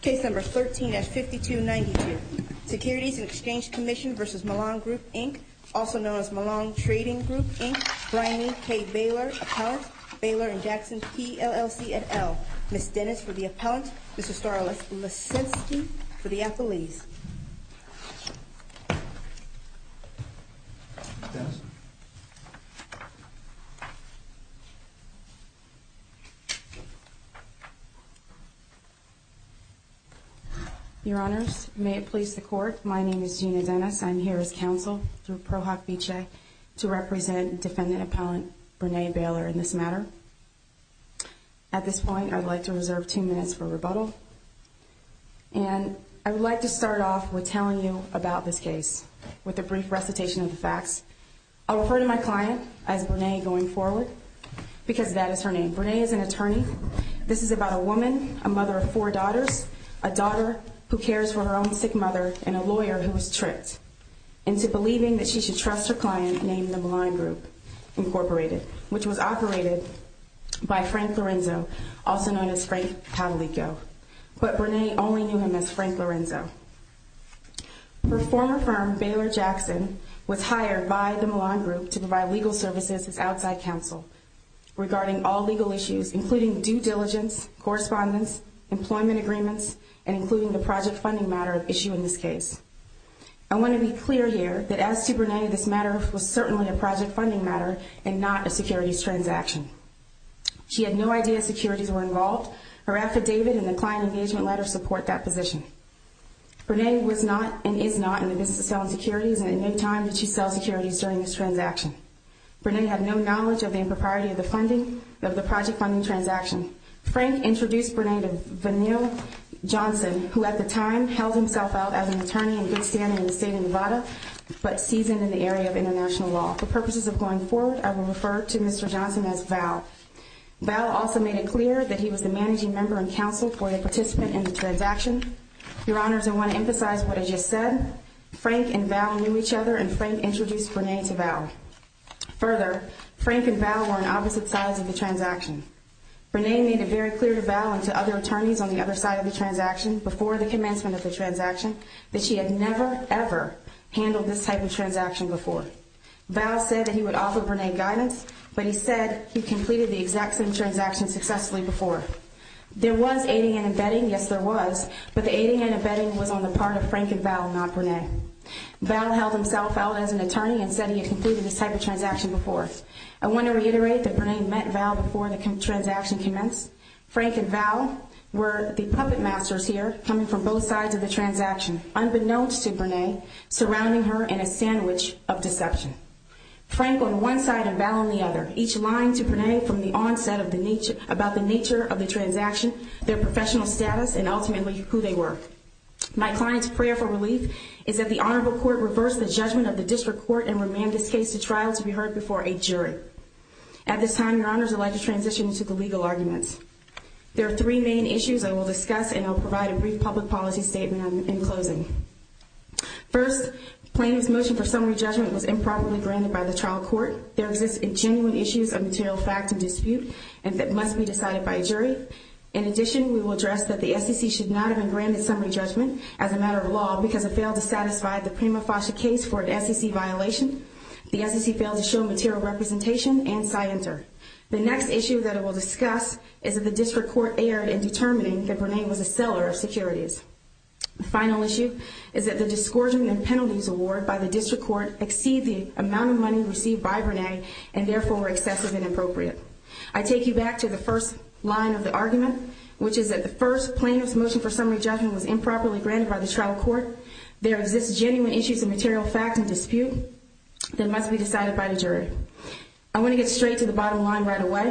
Case number 13-5292. Securities and Exchange Commission v. Milan Group, Inc. Also known as Milan Trading Group, Inc. Bryony K. Baylor, Appellant. Baylor and Jackson, PLLC, et al. Ms. Dennis for the Appellant. Mr. Starles Lesetsky for the Appellees. Your Honors, may it please the Court. My name is Gina Dennis. I'm here as Counsel through Pro Hoc Vice to represent Defendant Appellant Brene Baylor in this matter. At this point, I'd like to reserve two minutes for rebuttal. And I would like to start off with telling you about this case with a brief recitation of the facts. I'll refer to my client as Brene going forward because that is her name. Brene is an attorney. This is about a woman, a mother of four daughters, a daughter who cares for her own sick mother, and a lawyer who was tricked into believing that she should trust her client named the Milan Group, Inc., which was operated by Frank Lorenzo, also known as Frank Patalico. But Brene only knew him as Frank Lorenzo. Her former firm, Baylor Jackson, was hired by the Milan Group to provide legal services as outside counsel regarding all legal issues, including due diligence, correspondence, employment agreements, and including the project funding matter of issue in this case. I want to be clear here that as to Brene, this matter was certainly a project funding matter and not a securities transaction. She had no idea securities were involved. Her affidavit and the client engagement letter support that position. Brene was not and is not in the business of selling securities, and in no time did she sell securities during this transaction. Brene had no knowledge of the impropriety of the funding, Frank introduced Brene to Vanille Johnson, who at the time held himself out as an attorney in good standing in the state of Nevada, but seasoned in the area of international law. For purposes of going forward, I will refer to Mr. Johnson as Val. Val also made it clear that he was the managing member and counsel for the participant in the transaction. Your Honors, I want to emphasize what I just said. Frank and Val knew each other, and Frank introduced Brene to Val. Further, Frank and Val were on opposite sides of the transaction. Brene made it very clear to Val and to other attorneys on the other side of the transaction before the commencement of the transaction that she had never, ever handled this type of transaction before. Val said that he would offer Brene guidance, but he said he completed the exact same transaction successfully before. There was aiding and abetting, yes there was, but the aiding and abetting was on the part of Frank and Val, not Brene. Val held himself out as an attorney and said he had completed this type of transaction before. I want to reiterate that Brene met Val before the transaction commenced. Frank and Val were the puppet masters here, coming from both sides of the transaction, unbeknownst to Brene, surrounding her in a sandwich of deception. Frank on one side and Val on the other, each lying to Brene from the onset about the nature of the transaction, their professional status, and ultimately who they were. My client's prayer for relief is that the Honorable Court reverse the judgment of the District Court and remand this case to trial to be heard before a jury. At this time, Your Honors, I'd like to transition into the legal arguments. There are three main issues I will discuss and I'll provide a brief public policy statement in closing. First, the plaintiff's motion for summary judgment was improperly granted by the trial court. There exist genuine issues of material fact and dispute that must be decided by a jury. In addition, we will address that the SEC should not have been granted summary judgment as a matter of law because it failed to satisfy the Prima Foster case for an SEC violation. The SEC failed to show material representation and SciENter. The next issue that I will discuss is that the District Court erred in determining that Brene was a seller of securities. The final issue is that the disgorging and penalties award by the District Court exceed the amount of money received by Brene and therefore were excessive and inappropriate. I take you back to the first line of the argument, which is that the first plaintiff's motion for summary judgment was improperly granted by the trial court. There exist genuine issues of material fact and dispute that must be decided by the jury. I want to get straight to the bottom line right away.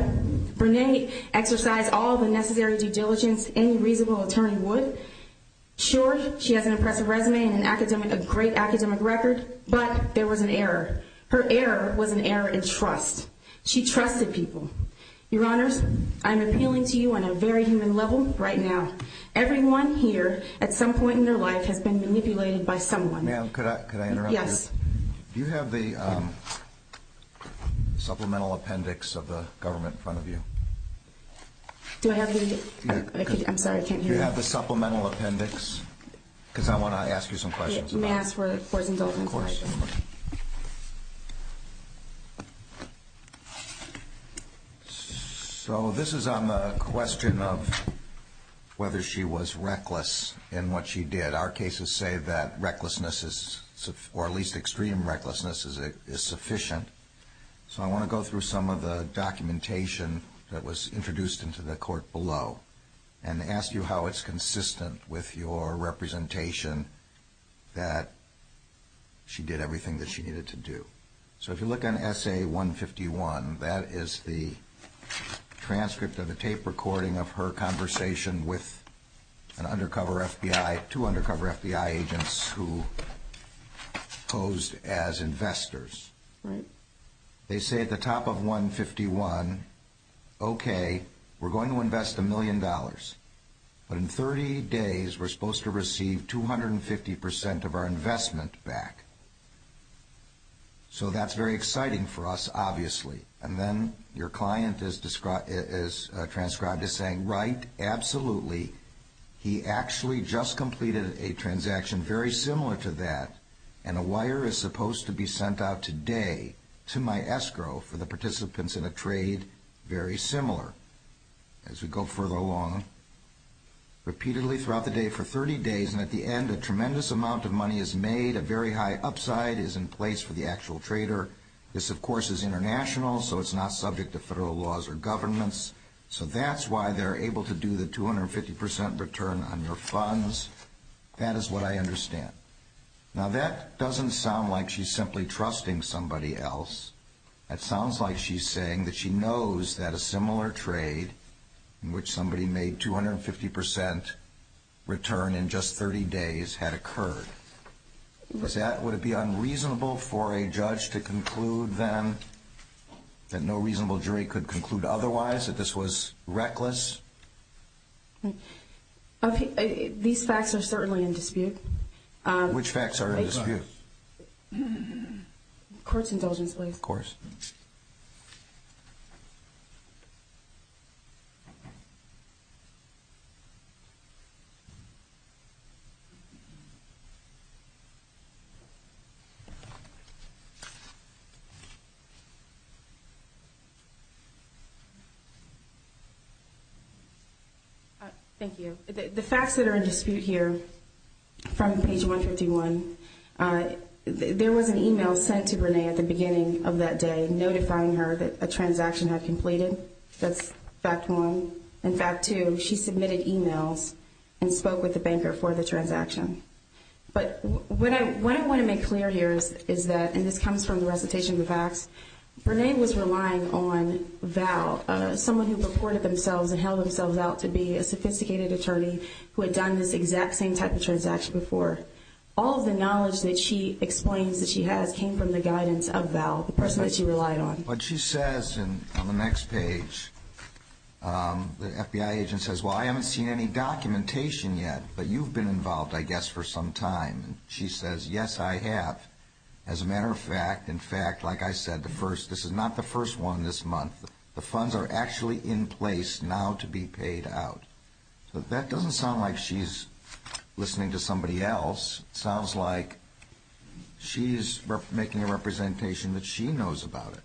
Brene exercised all the necessary due diligence any reasonable attorney would. Sure, she has an impressive resume and a great academic record, but there was an error. Her error was an error in trust. She trusted people. Your Honors, I am appealing to you on a very human level right now. Everyone here at some point in their life has been manipulated by someone. Ma'am, could I interrupt you? Yes. Do you have the supplemental appendix of the government in front of you? Do I have it? I'm sorry, I can't hear you. Do you have the supplemental appendix? Because I want to ask you some questions about it. May I ask for his indulgence? Of course. So this is on the question of whether she was reckless in what she did. Our cases say that recklessness, or at least extreme recklessness, is sufficient. So I want to go through some of the documentation that was introduced into the court below and ask you how it's consistent with your representation that she did everything that she needed to do. So if you look on Essay 151, that is the transcript of a tape recording of her conversation with an undercover FBI, two undercover FBI agents who posed as investors. Right. They say at the top of 151, okay, we're going to invest a million dollars, but in 30 days we're supposed to receive 250% of our investment back. So that's very exciting for us, obviously. And then your client is transcribed as saying, Right, absolutely. He actually just completed a transaction very similar to that, and a wire is supposed to be sent out today to my escrow for the participants in a trade very similar. As we go further along, repeatedly throughout the day for 30 days, and at the end a tremendous amount of money is made, a very high upside is in place for the actual trader. This, of course, is international, so it's not subject to federal laws or governments. So that's why they're able to do the 250% return on your funds. That is what I understand. Now, that doesn't sound like she's simply trusting somebody else. That sounds like she's saying that she knows that a similar trade in which somebody made 250% return in just 30 days had occurred. Would it be unreasonable for a judge to conclude then that no reasonable jury could conclude otherwise, that this was reckless? These facts are certainly in dispute. Which facts are in dispute? Of course. Thank you. The facts that are in dispute here from page 151, there was an email sent to Renee at the beginning of that day notifying her that a transaction had completed. That's fact one. In fact two, she submitted emails and spoke with the banker for the transaction. But what I want to make clear here is that, and this comes from the recitation of the facts, Renee was relying on Val, someone who reported themselves and held themselves out to be a sophisticated attorney who had done this exact same type of transaction before. All of the knowledge that she explains that she has came from the guidance of Val, the person that she relied on. What she says on the next page, the FBI agent says, well, I haven't seen any documentation yet, but you've been involved, I guess, for some time. She says, yes, I have. As a matter of fact, in fact, like I said, this is not the first one this month. The funds are actually in place now to be paid out. So that doesn't sound like she's listening to somebody else. It sounds like she's making a representation that she knows about it.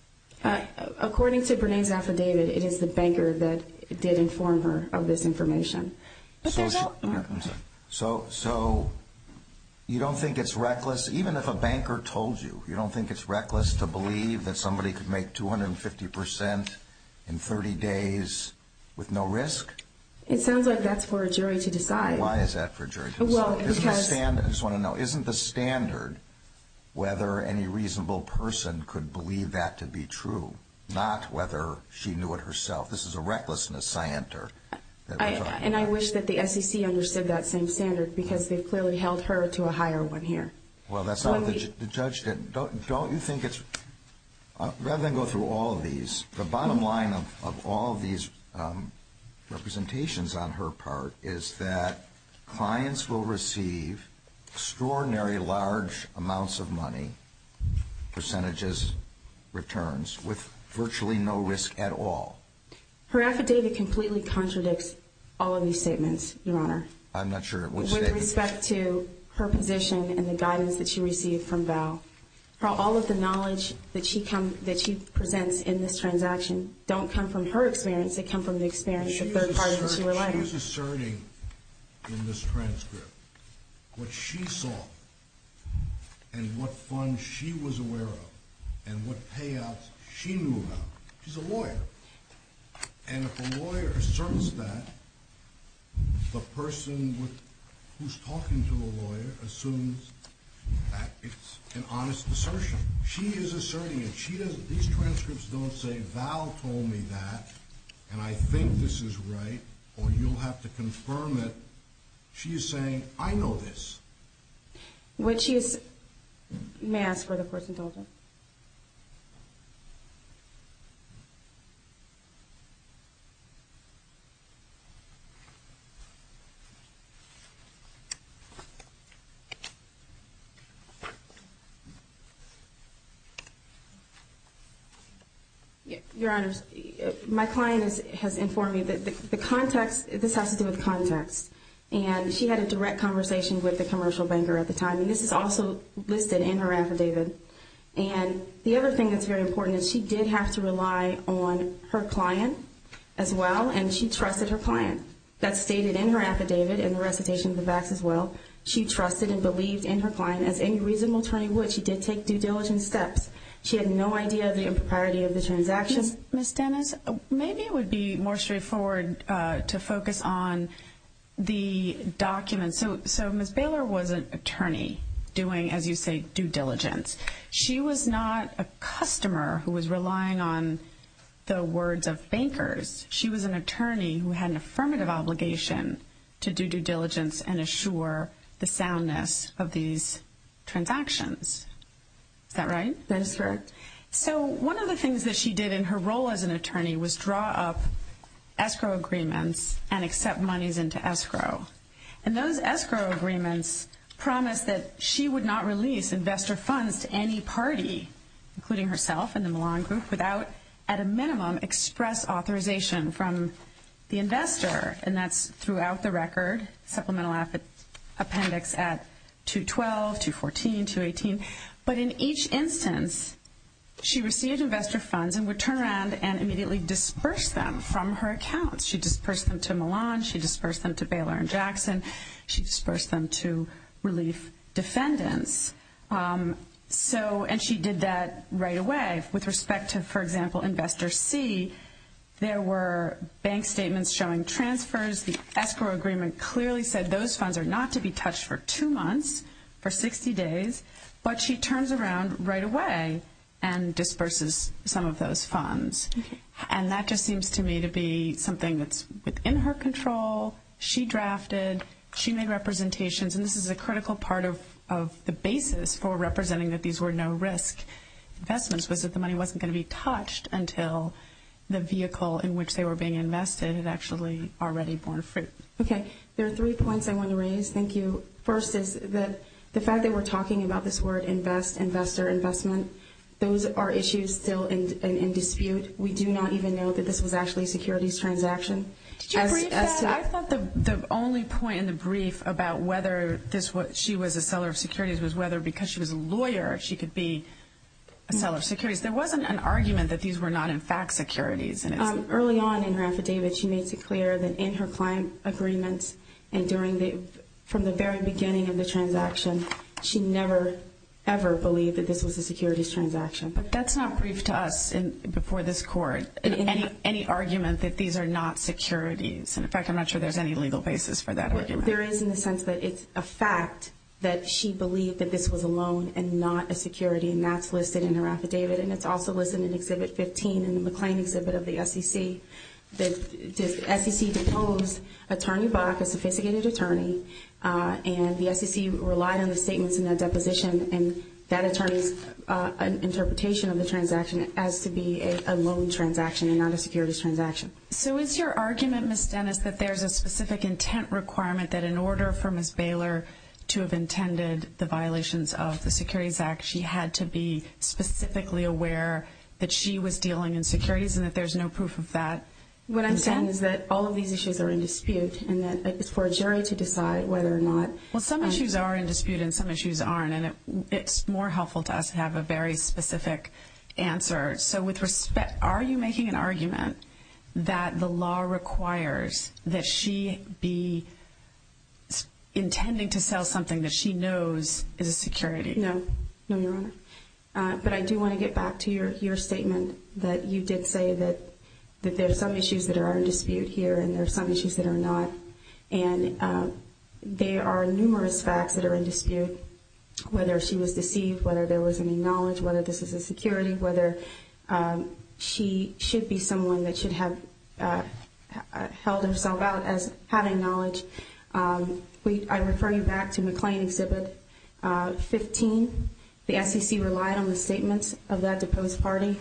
According to Renee's affidavit, it is the banker that did inform her of this information. So you don't think it's reckless? Even if a banker told you, you don't think it's reckless to believe that somebody could make 250% in 30 days with no risk? It sounds like that's for a jury to decide. Why is that for a jury to decide? I just want to know, isn't the standard whether any reasonable person could believe that to be true, not whether she knew it herself? This is a recklessness scienter that we're talking about. And I wish that the SEC understood that same standard because they've clearly held her to a higher one here. Well, that's not what the judge did. Don't you think it's... Rather than go through all of these, the bottom line of all of these representations on her part is that clients will receive extraordinary large amounts of money, percentages, returns, with virtually no risk at all. Her affidavit completely contradicts all of these statements, Your Honor. I'm not sure which statement. With respect to her position and the guidance that she received from Val. All of the knowledge that she presents in this transaction don't come from her experience, they come from the experience of third parties in her life. She is asserting in this transcript what she saw and what funds she was aware of and what payouts she knew about. She's a lawyer. And if a lawyer asserts that, the person who's talking to the lawyer assumes that it's an honest assertion. She is asserting it. These transcripts don't say, Val told me that and I think this is right, or you'll have to confirm it. She is saying, I know this. When she is... May I ask for the court's indulgence? Your Honors, my client has informed me that the context, this has to do with context, and she had a direct conversation with the commercial banker at the time, and this is also listed in her affidavit. And the other thing that's very important is she did have to rely on her client as well, and she trusted her client. That's stated in her affidavit and the recitation of the VAX as well. She trusted and believed in her client as any reasonable attorney would. She did take due diligence steps. She had no idea of the impropriety of the transaction. Ms. Dennis, maybe it would be more straightforward to focus on the documents. So Ms. Baylor was an attorney doing, as you say, due diligence. She was not a customer who was relying on the words of bankers. She was an attorney who had an affirmative obligation to do due diligence and assure the soundness of these transactions. Is that right? That is correct. So one of the things that she did in her role as an attorney was draw up escrow agreements and accept monies into escrow. And those escrow agreements promised that she would not release investor funds to any party, including herself and the Millon Group, without at a minimum express authorization from the investor. And that's throughout the record, supplemental appendix at 212, 214, 218. But in each instance, she received investor funds and would turn around and immediately disperse them from her accounts. She'd disperse them to Millon. She'd disperse them to Baylor and Jackson. She'd disperse them to relief defendants. And she did that right away. With respect to, for example, Investor C, there were bank statements showing transfers. The escrow agreement clearly said those funds are not to be touched for two months, for 60 days. But she turns around right away and disperses some of those funds. And that just seems to me to be something that's within her control. She drafted. She made representations. And this is a critical part of the basis for representing that these were no-risk investments was that the money wasn't going to be touched until the vehicle in which they were being invested had actually already borne fruit. Okay. There are three points I want to raise. Thank you. First is that the fact that we're talking about this word invest, investor investment, those are issues still in dispute. We do not even know that this was actually a securities transaction. Did you brief that? I thought the only point in the brief about whether she was a seller of securities was whether because she was a lawyer she could be a seller of securities. There wasn't an argument that these were not, in fact, securities. Early on in her affidavit, she makes it clear that in her client agreements and from the very beginning of the transaction, she never, ever believed that this was a securities transaction. But that's not briefed to us before this court, any argument that these are not securities. In fact, I'm not sure there's any legal basis for that argument. There is in the sense that it's a fact that she believed that this was a loan and not a security, and that's listed in her affidavit. And it's also listed in Exhibit 15 in the McLean Exhibit of the SEC. The SEC deposed Attorney Bach, a sophisticated attorney, and the SEC relied on the statements in that deposition and that attorney's interpretation of the transaction as to be a loan transaction and not a securities transaction. So is your argument, Ms. Dennis, that there's a specific intent requirement that in order for Ms. Baylor to have intended the violations of the Securities Act, she had to be specifically aware that she was dealing in securities and that there's no proof of that intent? What I'm saying is that all of these issues are in dispute and that it's for a jury to decide whether or not... Well, some issues are in dispute and some issues aren't, and it's more helpful to us to have a very specific answer. So with respect, are you making an argument that the law requires that she be intending to sell something that she knows is a security? No. No, Your Honor. But I do want to get back to your statement that you did say that there are some issues that are in dispute here and there are some issues that are not. And there are numerous facts that are in dispute, whether she was deceived, whether there was any knowledge, whether this is a security, whether she should be someone that should have held herself out as having knowledge. I refer you back to McLean Exhibit 15. The SEC relied on the statements of that deposed party.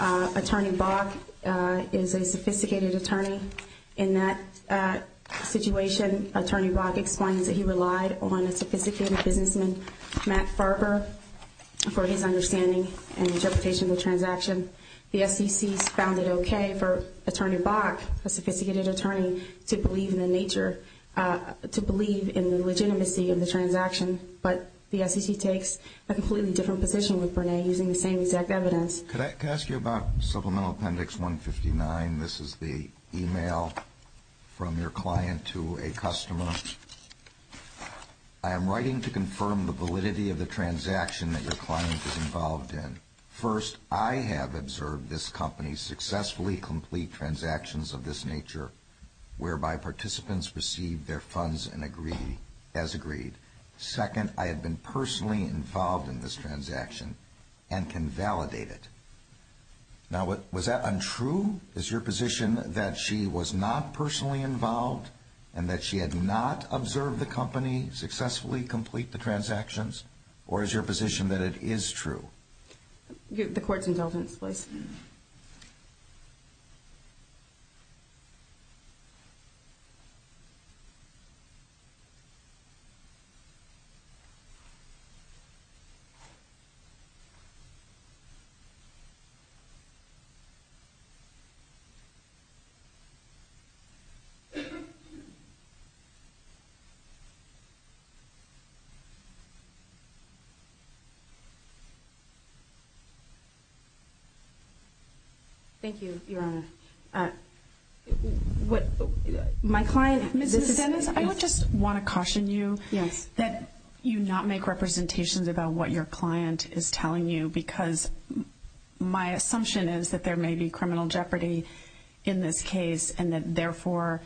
Attorney Bach is a sophisticated attorney. In that situation, Attorney Bach explains that he relied on a sophisticated businessman, Matt Farber, for his understanding and interpretation of the transaction. The SEC's found it okay for Attorney Bach, a sophisticated attorney, to believe in the legitimacy of the transaction, but the SEC takes a completely different position with Bernay using the same exact evidence. Could I ask you about Supplemental Appendix 159? This is the e-mail from your client to a customer. I am writing to confirm the validity of the transaction that your client is involved in. First, I have observed this company successfully complete transactions of this nature, whereby participants receive their funds as agreed. Second, I have been personally involved in this transaction and can validate it. Now, was that untrue? Is your position that she was not personally involved and that she had not observed the company successfully complete the transactions, or is your position that it is true? The court's indulgence, please. Thank you, Your Honor. My client, Ms. DeSantis, I want to caution you that you not make representations because my assumption is that there may be criminal jeopardy in this case and that, therefore,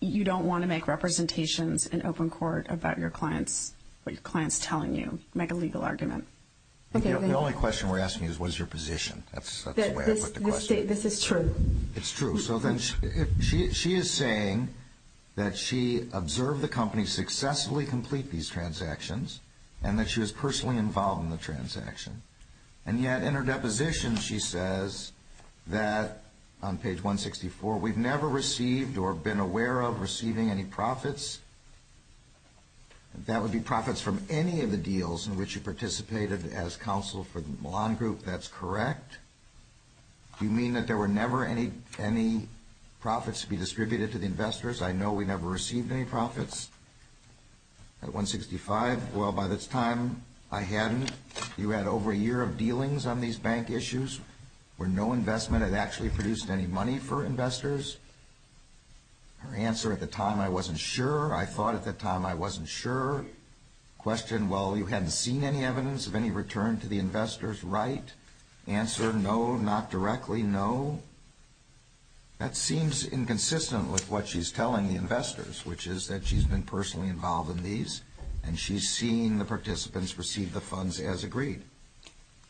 you don't want to make representations in open court about what your client's telling you, make a legal argument. The only question we're asking you is what is your position. That's the way I put the question. This is true. It's true. So then she is saying that she observed the company successfully complete these transactions and that she was personally involved in the transaction. And yet, in her deposition, she says that, on page 164, we've never received or been aware of receiving any profits. That would be profits from any of the deals in which you participated as counsel for the Milan Group. That's correct. Do you mean that there were never any profits to be distributed to the investors? I know we never received any profits. At 165, well, by this time, I hadn't. You had over a year of dealings on these bank issues where no investment had actually produced any money for investors. Her answer at the time, I wasn't sure. I thought at the time I wasn't sure. Question, well, you hadn't seen any evidence of any return to the investors, right? Answer, no, not directly, no. That seems inconsistent with what she's telling the investors, which is that she's been personally involved in these and she's seen the participants receive the funds as agreed.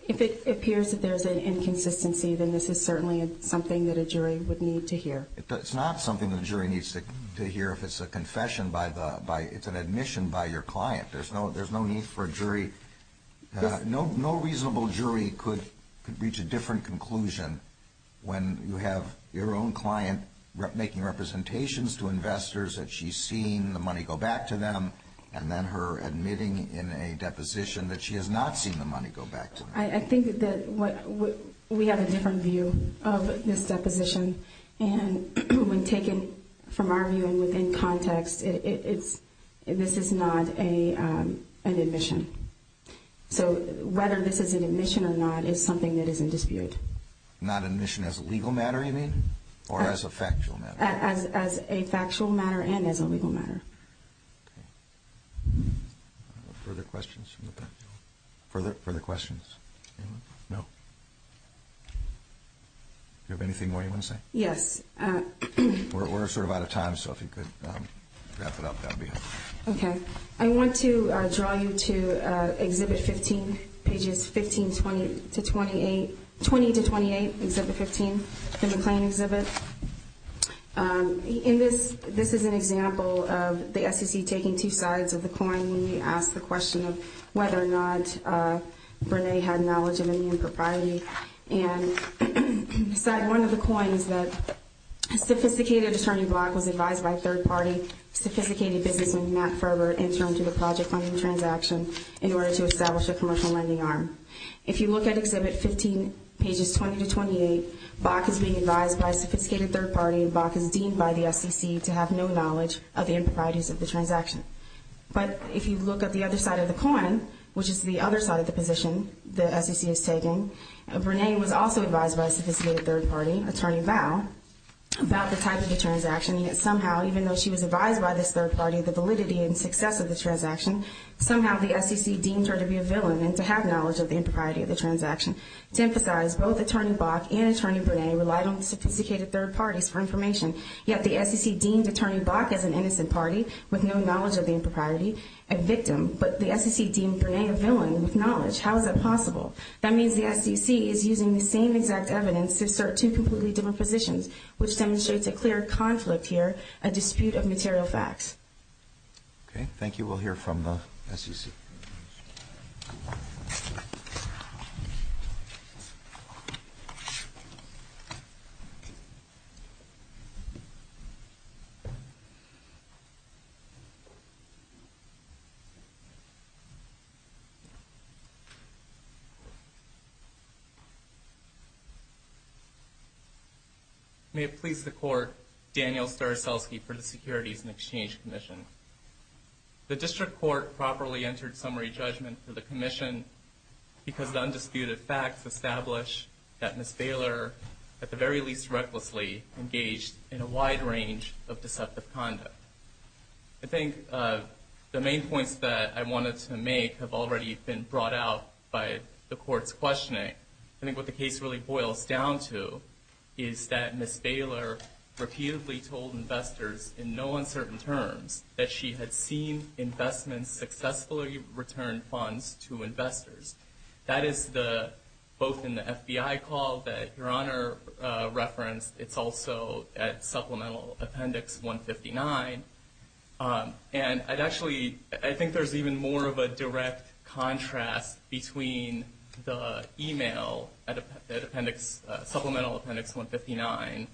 If it appears that there's an inconsistency, then this is certainly something that a jury would need to hear. It's not something the jury needs to hear if it's a confession by the – it's an admission by your client. There's no need for a jury – no reasonable jury could reach a different conclusion when you have your own client making representations to investors that she's seen the money go back to them and then her admitting in a deposition that she has not seen the money go back to them. I think that we have a different view of this deposition. And when taken from our view and within context, it's – this is not an admission. So whether this is an admission or not is something that is in dispute. Not an admission as a legal matter, you mean, or as a factual matter? As a factual matter and as a legal matter. Okay. Further questions from the panel? Further questions? Anyone? No. Do you have anything more you want to say? Yes. We're sort of out of time, so if you could wrap it up, that would be helpful. Okay. I want to draw you to Exhibit 15, pages 15 to 28. 20 to 28, Exhibit 15, the McLean exhibit. In this – this is an example of the SEC taking two sides of the coin when we asked the question of whether or not Brene had knowledge of any impropriety. And one of the coins said, Sophisticated Attorney Bach was advised by third-party sophisticated businessman Matt Ferber in terms of a project funding transaction in order to establish a commercial lending arm. If you look at Exhibit 15, pages 20 to 28, Bach is being advised by a sophisticated third-party and Bach is deemed by the SEC to have no knowledge of the improprieties of the transaction. But if you look at the other side of the coin, which is the other side of the position the SEC is taking, Brene was also advised by a sophisticated third-party, Attorney Bao, about the type of the transaction. Yet somehow, even though she was advised by this third-party of the validity and success of the transaction, somehow the SEC deemed her to be a villain and to have knowledge of the impropriety of the transaction. To emphasize, both Attorney Bach and Attorney Brene relied on sophisticated third-parties for information. Yet the SEC deemed Attorney Bach as an innocent party with no knowledge of the impropriety, a victim. But the SEC deemed Brene a villain with knowledge. How is that possible? That means the SEC is using the same exact evidence to assert two completely different positions, which demonstrates a clear conflict here, a dispute of material facts. Okay, thank you. We'll hear from the SEC. May it please the Court, Daniel Staroselsky for the Securities and Exchange Commission. The District Court properly entered summary judgment for the Commission because the undisputed facts establish that Ms. Baylor, at the very least recklessly, engaged in a wide range of deceptive conduct. I think the main points that I wanted to make have already been brought out by the Court. I think what the case really boils down to is that Ms. Baylor repeatedly told investors in no uncertain terms that she had seen investments successfully return funds to investors. That is both in the FBI call that Your Honor referenced. It's also at Supplemental Appendix 159. I think there's even more of a direct contrast between the email at Supplemental Appendix 159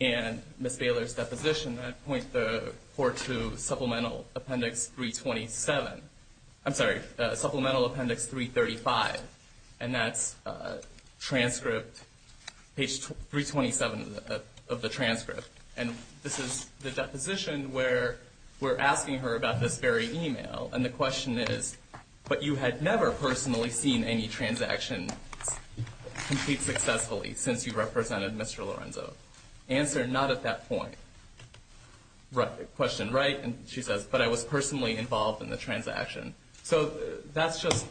and Ms. Baylor's deposition that points the Court to Supplemental Appendix 327. I'm sorry, Supplemental Appendix 335, and that's page 327 of the transcript. And this is the deposition where we're asking her about this very email. And the question is, but you had never personally seen any transactions complete successfully since you represented Mr. Lorenzo. Answer, not at that point. Question, right, and she says, but I was personally involved in the transaction. So that's just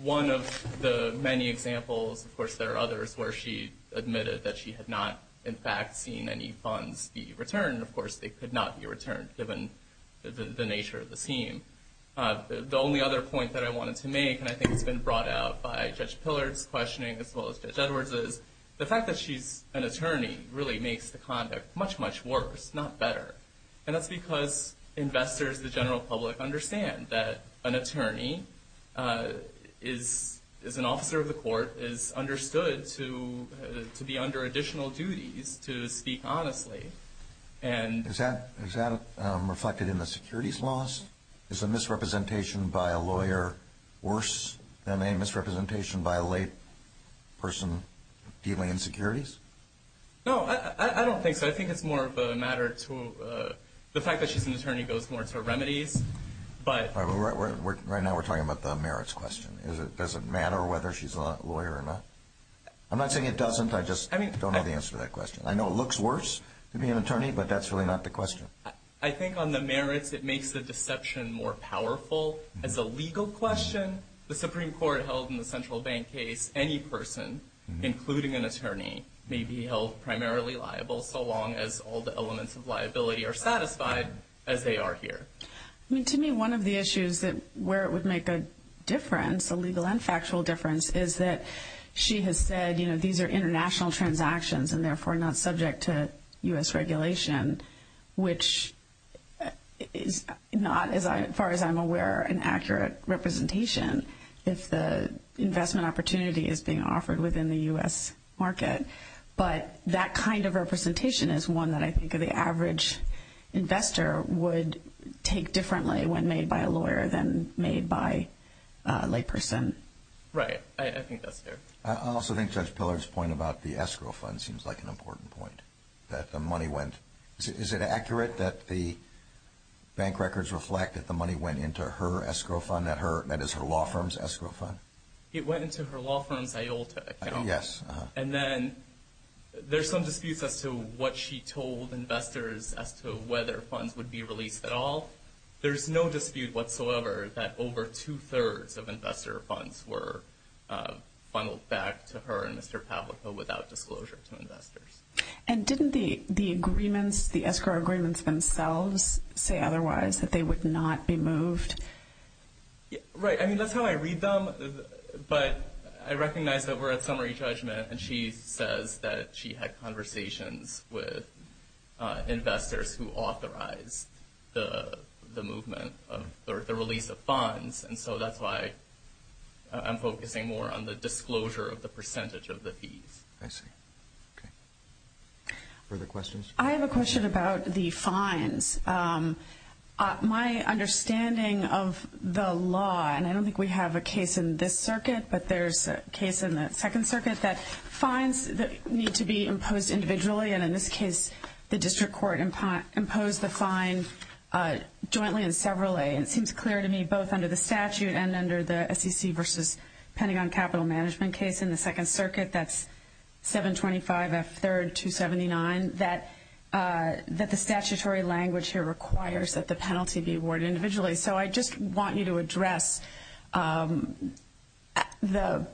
one of the many examples. Of course, there are others where she admitted that she had not, in fact, seen any funds be returned. Of course, they could not be returned, given the nature of the scheme. The only other point that I wanted to make, and I think it's been brought out by Judge Pillard's questioning as well as Judge Edwards', is the fact that she's an attorney really makes the conduct much, much worse, not better. And that's because investors, the general public, understand that an attorney is an officer of the court, is understood to be under additional duties to speak honestly. Is that reflected in the securities laws? Is a misrepresentation by a lawyer worse than a misrepresentation by a layperson dealing in securities? No, I don't think so. I think it's more of a matter to the fact that she's an attorney goes more to her remedies. Right now, we're talking about the merits question. Does it matter whether she's a lawyer or not? I'm not saying it doesn't. I just don't know the answer to that question. I know it looks worse to be an attorney, but that's really not the question. I think on the merits, it makes the deception more powerful. As a legal question, the Supreme Court held in the Central Bank case, any person, including an attorney, may be held primarily liable so long as all the elements of liability are satisfied as they are here. To me, one of the issues where it would make a difference, a legal and factual difference, is that she has said these are international transactions and therefore not subject to U.S. regulation, which is not, as far as I'm aware, an accurate representation if the investment opportunity is being offered within the U.S. market. But that kind of representation is one that I think the average investor would take differently when made by a lawyer than made by a layperson. Right. I think that's fair. I also think Judge Pillard's point about the escrow fund seems like an important point, that the money went—is it accurate that the bank records reflect that the money went into her escrow fund, that is, her law firm's escrow fund? It went into her law firm's IOLTA account. Yes. And then there's some disputes as to what she told investors as to whether funds would be released at all. There's no dispute whatsoever that over two-thirds of investor funds were funneled back to her and Mr. Pavliko without disclosure to investors. And didn't the agreements, the escrow agreements themselves, say otherwise, that they would not be moved? Right. I mean, that's how I read them. But I recognize that we're at summary judgment, and she says that she had conversations with investors who authorized the movement or the release of funds, and so that's why I'm focusing more on the disclosure of the percentage of the fees. I see. Okay. Further questions? I have a question about the fines. My understanding of the law, and I don't think we have a case in this circuit, but there's a case in the Second Circuit that fines need to be imposed individually, and in this case the district court imposed the fine jointly and severally, and it seems clear to me both under the statute and under the SEC versus Pentagon Capital Management case in the Second Circuit, that's 725F3279, that the statutory language here requires that the penalty be awarded individually. So I just want you to address whether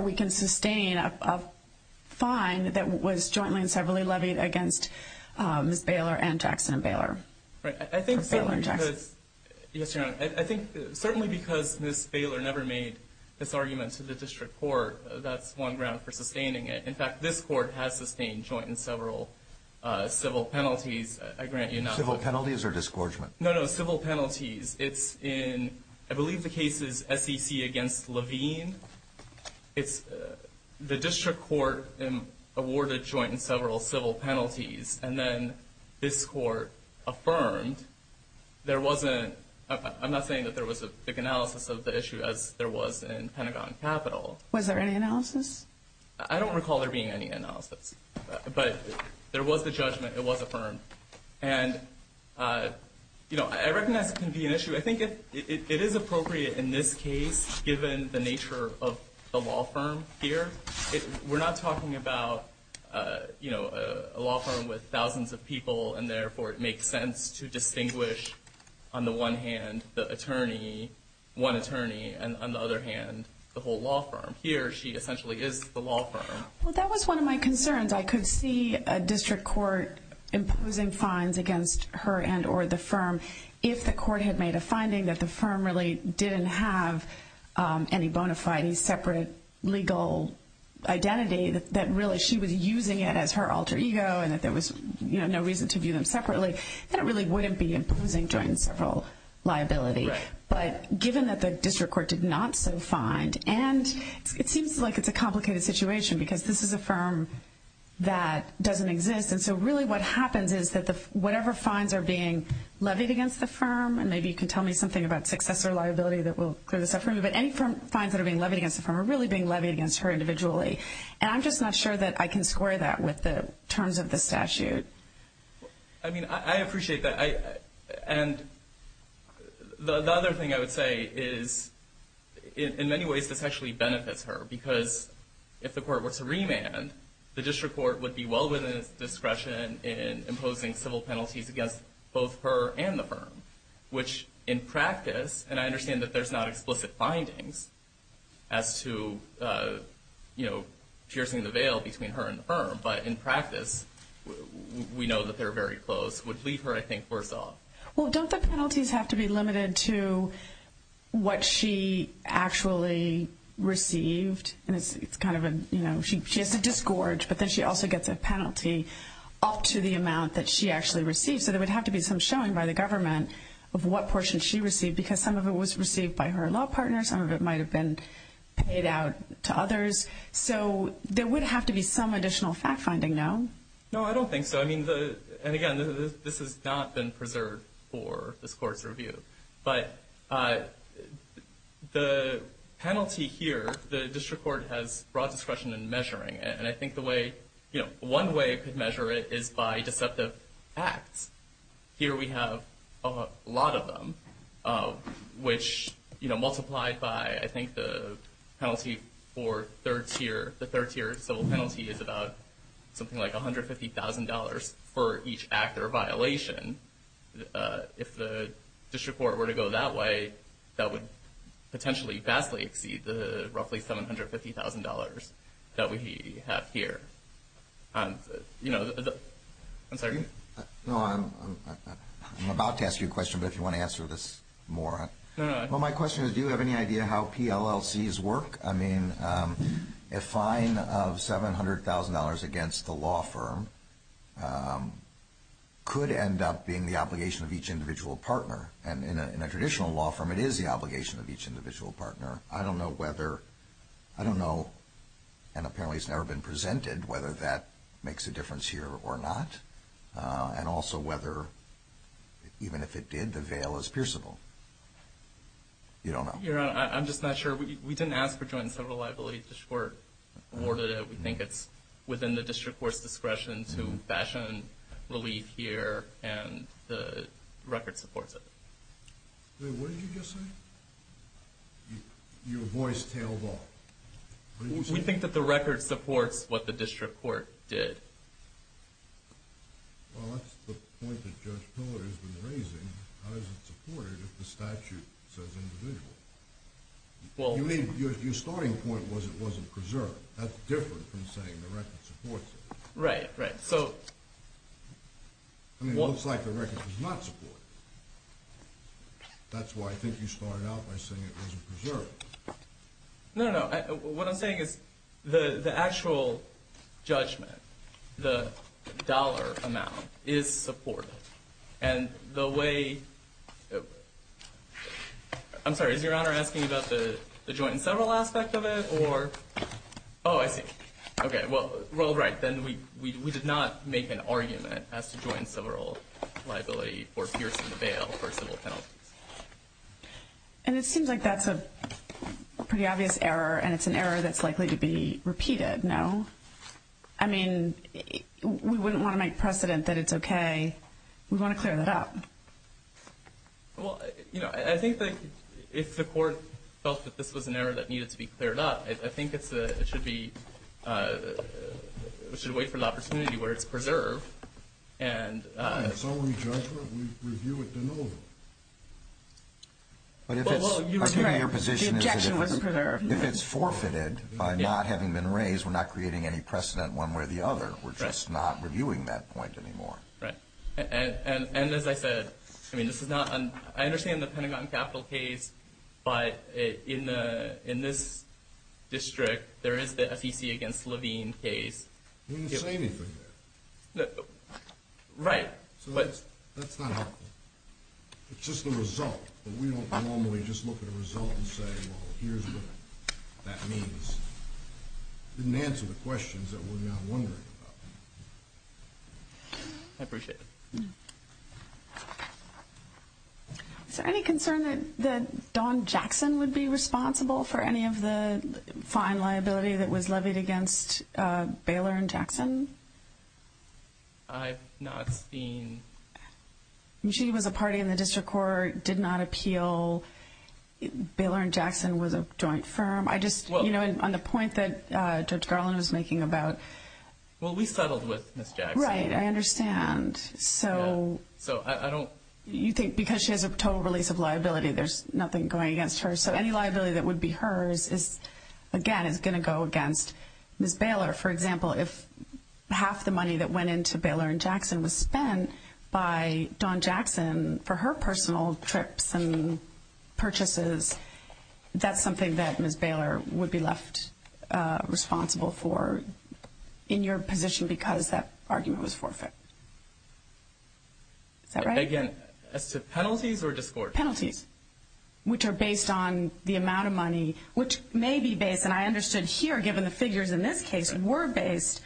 we can sustain a fine that was jointly and severally levied against Ms. Baylor and Jackson Baylor. I think certainly because Ms. Baylor never made this argument to the district court, that's one ground for sustaining it. In fact, this court has sustained joint and several civil penalties, I grant you nothing. Civil penalties or disgorgement? No, no, civil penalties. It's in, I believe the case is SEC against Levine. It's the district court awarded joint and several civil penalties, and then this court affirmed there wasn't, I'm not saying that there was a big analysis of the issue as there was in Pentagon Capital. Was there any analysis? I don't recall there being any analysis, but there was the judgment. It was affirmed. And, you know, I recognize it can be an issue. I think it is appropriate in this case given the nature of the law firm here. We're not talking about, you know, a law firm with thousands of people and therefore it makes sense to distinguish on the one hand the attorney, one attorney, and on the other hand the whole law firm. Here she essentially is the law firm. Well, that was one of my concerns. I could see a district court imposing fines against her and or the firm if the court had made a finding that the firm really didn't have any bona fide, separate legal identity that really she was using it as her alter ego and that there was, you know, no reason to view them separately, then it really wouldn't be imposing joint and several liability. But given that the district court did not so find, and it seems like it's a complicated situation because this is a firm that doesn't exist, and so really what happens is that whatever fines are being levied against the firm, and maybe you can tell me something about successor liability that will clear this up for me, but any fines that are being levied against the firm are really being levied against her individually. And I'm just not sure that I can square that with the terms of the statute. I mean, I appreciate that. And the other thing I would say is in many ways this actually benefits her because if the court were to remand, the district court would be well within its discretion in imposing civil penalties against both her and the firm, which in practice, and I understand that there's not explicit findings as to, you know, piercing the veil between her and the firm, but in practice we know that they're very close, would leave her, I think, worse off. Well, don't the penalties have to be limited to what she actually received? And it's kind of a, you know, she has to disgorge, but then she also gets a penalty up to the amount that she actually received. So there would have to be some showing by the government of what portion she received because some of it was received by her law partner, some of it might have been paid out to others. So there would have to be some additional fact-finding, no? No, I don't think so. I mean, and again, this has not been preserved for this court's review, but the penalty here, the district court has broad discretion in measuring it, and I think the way, you know, one way it could measure it is by deceptive acts. Here we have a lot of them, which, you know, multiplied by, I think, the penalty for third tier, the third tier civil penalty is about something like $150,000 for each act or violation. If the district court were to go that way, that would potentially vastly exceed the roughly $750,000 that we have here. You know, I'm sorry? No, I'm about to ask you a question, but if you want to answer this more. Well, my question is, do you have any idea how PLLCs work? I mean, a fine of $700,000 against the law firm could end up being the obligation of each individual partner, and in a traditional law firm, it is the obligation of each individual partner. I don't know whether, I don't know, and apparently it's never been presented, whether that makes a difference here or not, and also whether, even if it did, the veil is pierceable. You don't know? Your Honor, I'm just not sure. We didn't ask for joint and civil liability. The court awarded it. We think it's within the district court's discretion to fashion relief here, and the record supports it. Wait, what did you just say? Your voice tailed off. What did you say? We think that the record supports what the district court did. Well, that's the point that Judge Pillard has been raising. How is it supported if the statute says individual? You mean, your starting point was it wasn't preserved. That's different from saying the record supports it. Right, right. I mean, it looks like the record does not support it. That's why I think you started out by saying it wasn't preserved. No, no. What I'm saying is the actual judgment, the dollar amount, is supported. And the way – I'm sorry. Is Your Honor asking about the joint and civil aspect of it or – oh, I see. Okay. Well, right. Then we did not make an argument as to joint and civil liability for piercing the veil for civil penalties. And it seems like that's a pretty obvious error, and it's an error that's likely to be repeated, no? I mean, we wouldn't want to make precedent that it's okay. We want to clear that up. Well, you know, I think that if the court felt that this was an error that needed to be cleared up, I think it should wait for the opportunity where it's preserved. Fine. It's only judgment. We review it then over. Well, you were correct. The objection was preserved. If it's forfeited by not having been raised, we're not creating any precedent one way or the other. We're just not reviewing that point anymore. Right. And as I said, I mean, this is not – I understand the Pentagon Capital case, but in this district there is the SEC against Levine case. You didn't say anything there. Right. So that's not helpful. It's just the result, but we don't normally just look at a result and say, well, here's what that means. It didn't answer the questions that we're now wondering about. I appreciate it. Is there any concern that Don Jackson would be responsible for any of the fine liability that was levied against Baylor and Jackson? I've not seen – She was a party in the district court, did not appeal. Baylor and Jackson was a joint firm. I just – you know, on the point that Judge Garland was making about – Well, we settled with Ms. Jackson. Right. I understand. So I don't – You think because she has a total release of liability, there's nothing going against her. So any liability that would be hers is, again, is going to go against Ms. Baylor. For example, if half the money that went into Baylor and Jackson was spent by Don Jackson for her personal trips and purchases, that's something that Ms. Baylor would be left responsible for in your position because that argument was forfeit. Is that right? Again, as to penalties or discords? They're penalties, which are based on the amount of money, which may be based – and I understood here, given the figures in this case, were based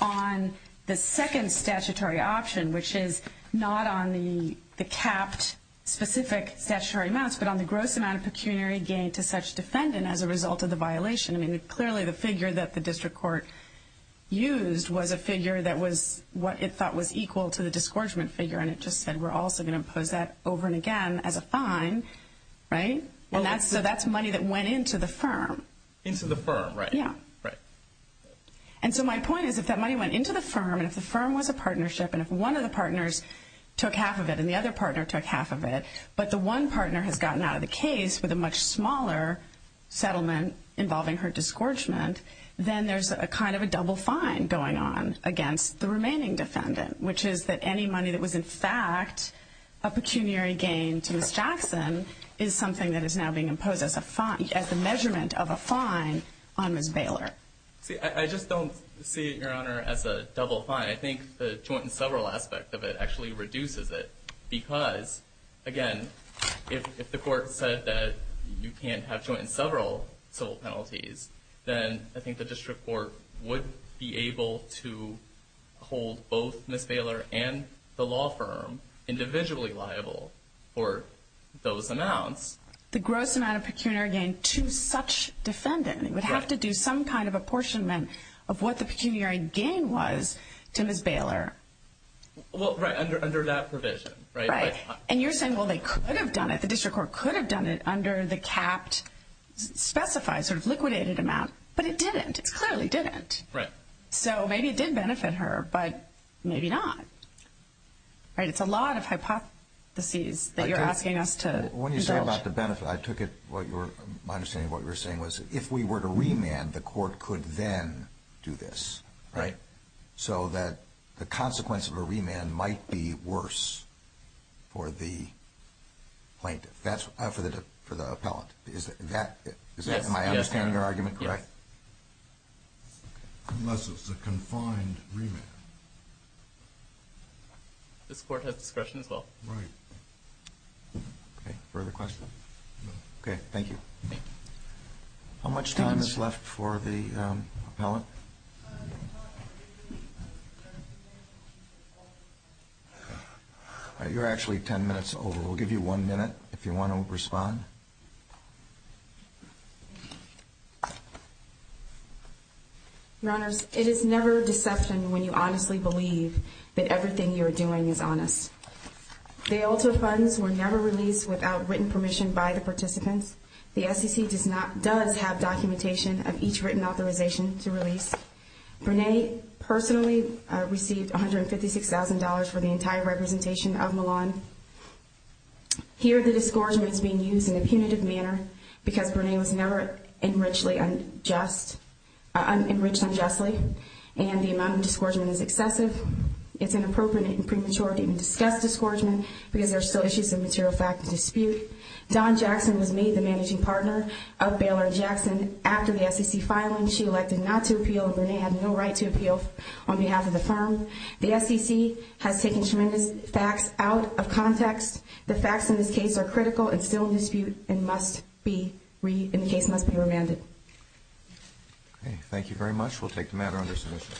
on the second statutory option, which is not on the capped specific statutory amounts but on the gross amount of pecuniary gain to such defendant as a result of the violation. I mean, clearly the figure that the district court used was a figure that was what it thought was equal to the disgorgement figure, and it just said, we're also going to impose that over and again as a fine, right? So that's money that went into the firm. Into the firm, right. Yeah. Right. And so my point is if that money went into the firm and if the firm was a partnership and if one of the partners took half of it and the other partner took half of it, but the one partner has gotten out of the case with a much smaller settlement involving her disgorgement, then there's a kind of a double fine going on against the remaining defendant, which is that any money that was in fact a pecuniary gain to Ms. Jackson is something that is now being imposed as a measurement of a fine on Ms. Baylor. See, I just don't see it, Your Honor, as a double fine. I think the joint and several aspect of it actually reduces it because, again, if the court said that you can't have joint and several civil penalties, then I think the district court would be able to hold both Ms. Baylor and the law firm individually liable for those amounts. The gross amount of pecuniary gain to such defendant would have to do some kind of apportionment of what the pecuniary gain was to Ms. Baylor. Well, right, under that provision. Right. And you're saying, well, they could have done it. The district court could have done it under the capped specified sort of liquidated amount, but it didn't. It clearly didn't. Right. So maybe it did benefit her, but maybe not. Right? It's a lot of hypotheses that you're asking us to indulge. When you say about the benefit, I took it, my understanding of what you were saying was if we were to remand, the court could then do this, right, so that the consequence of a remand might be worse for the plaintiff, for the appellant. Am I understanding your argument correctly? Yes. Unless it's a confined remand. This court has discretion as well. Right. Further questions? No. Okay, thank you. How much time is left for the appellant? You're actually ten minutes over. We'll give you one minute if you want to respond. Your Honors, it is never deception when you honestly believe that everything you are doing is honest. The ULTA funds were never released without written permission by the participants. The SEC does have documentation of each written authorization to release. Brene personally received $156,000 for the entire representation of Milan. Here the discouragement is being used in a punitive manner because Brene was never enriched unjustly and the amount of discouragement is excessive. It's inappropriate and premature to even discuss discouragement because there are still issues of material fact and dispute. Dawn Jackson was made the managing partner of Baylor & Jackson. After the SEC filing, she elected not to appeal and Brene had no right to appeal on behalf of the firm. The SEC has taken tremendous facts out of context. The facts in this case are critical and still in dispute and the case must be remanded. Okay, thank you very much. We'll take the matter under submission.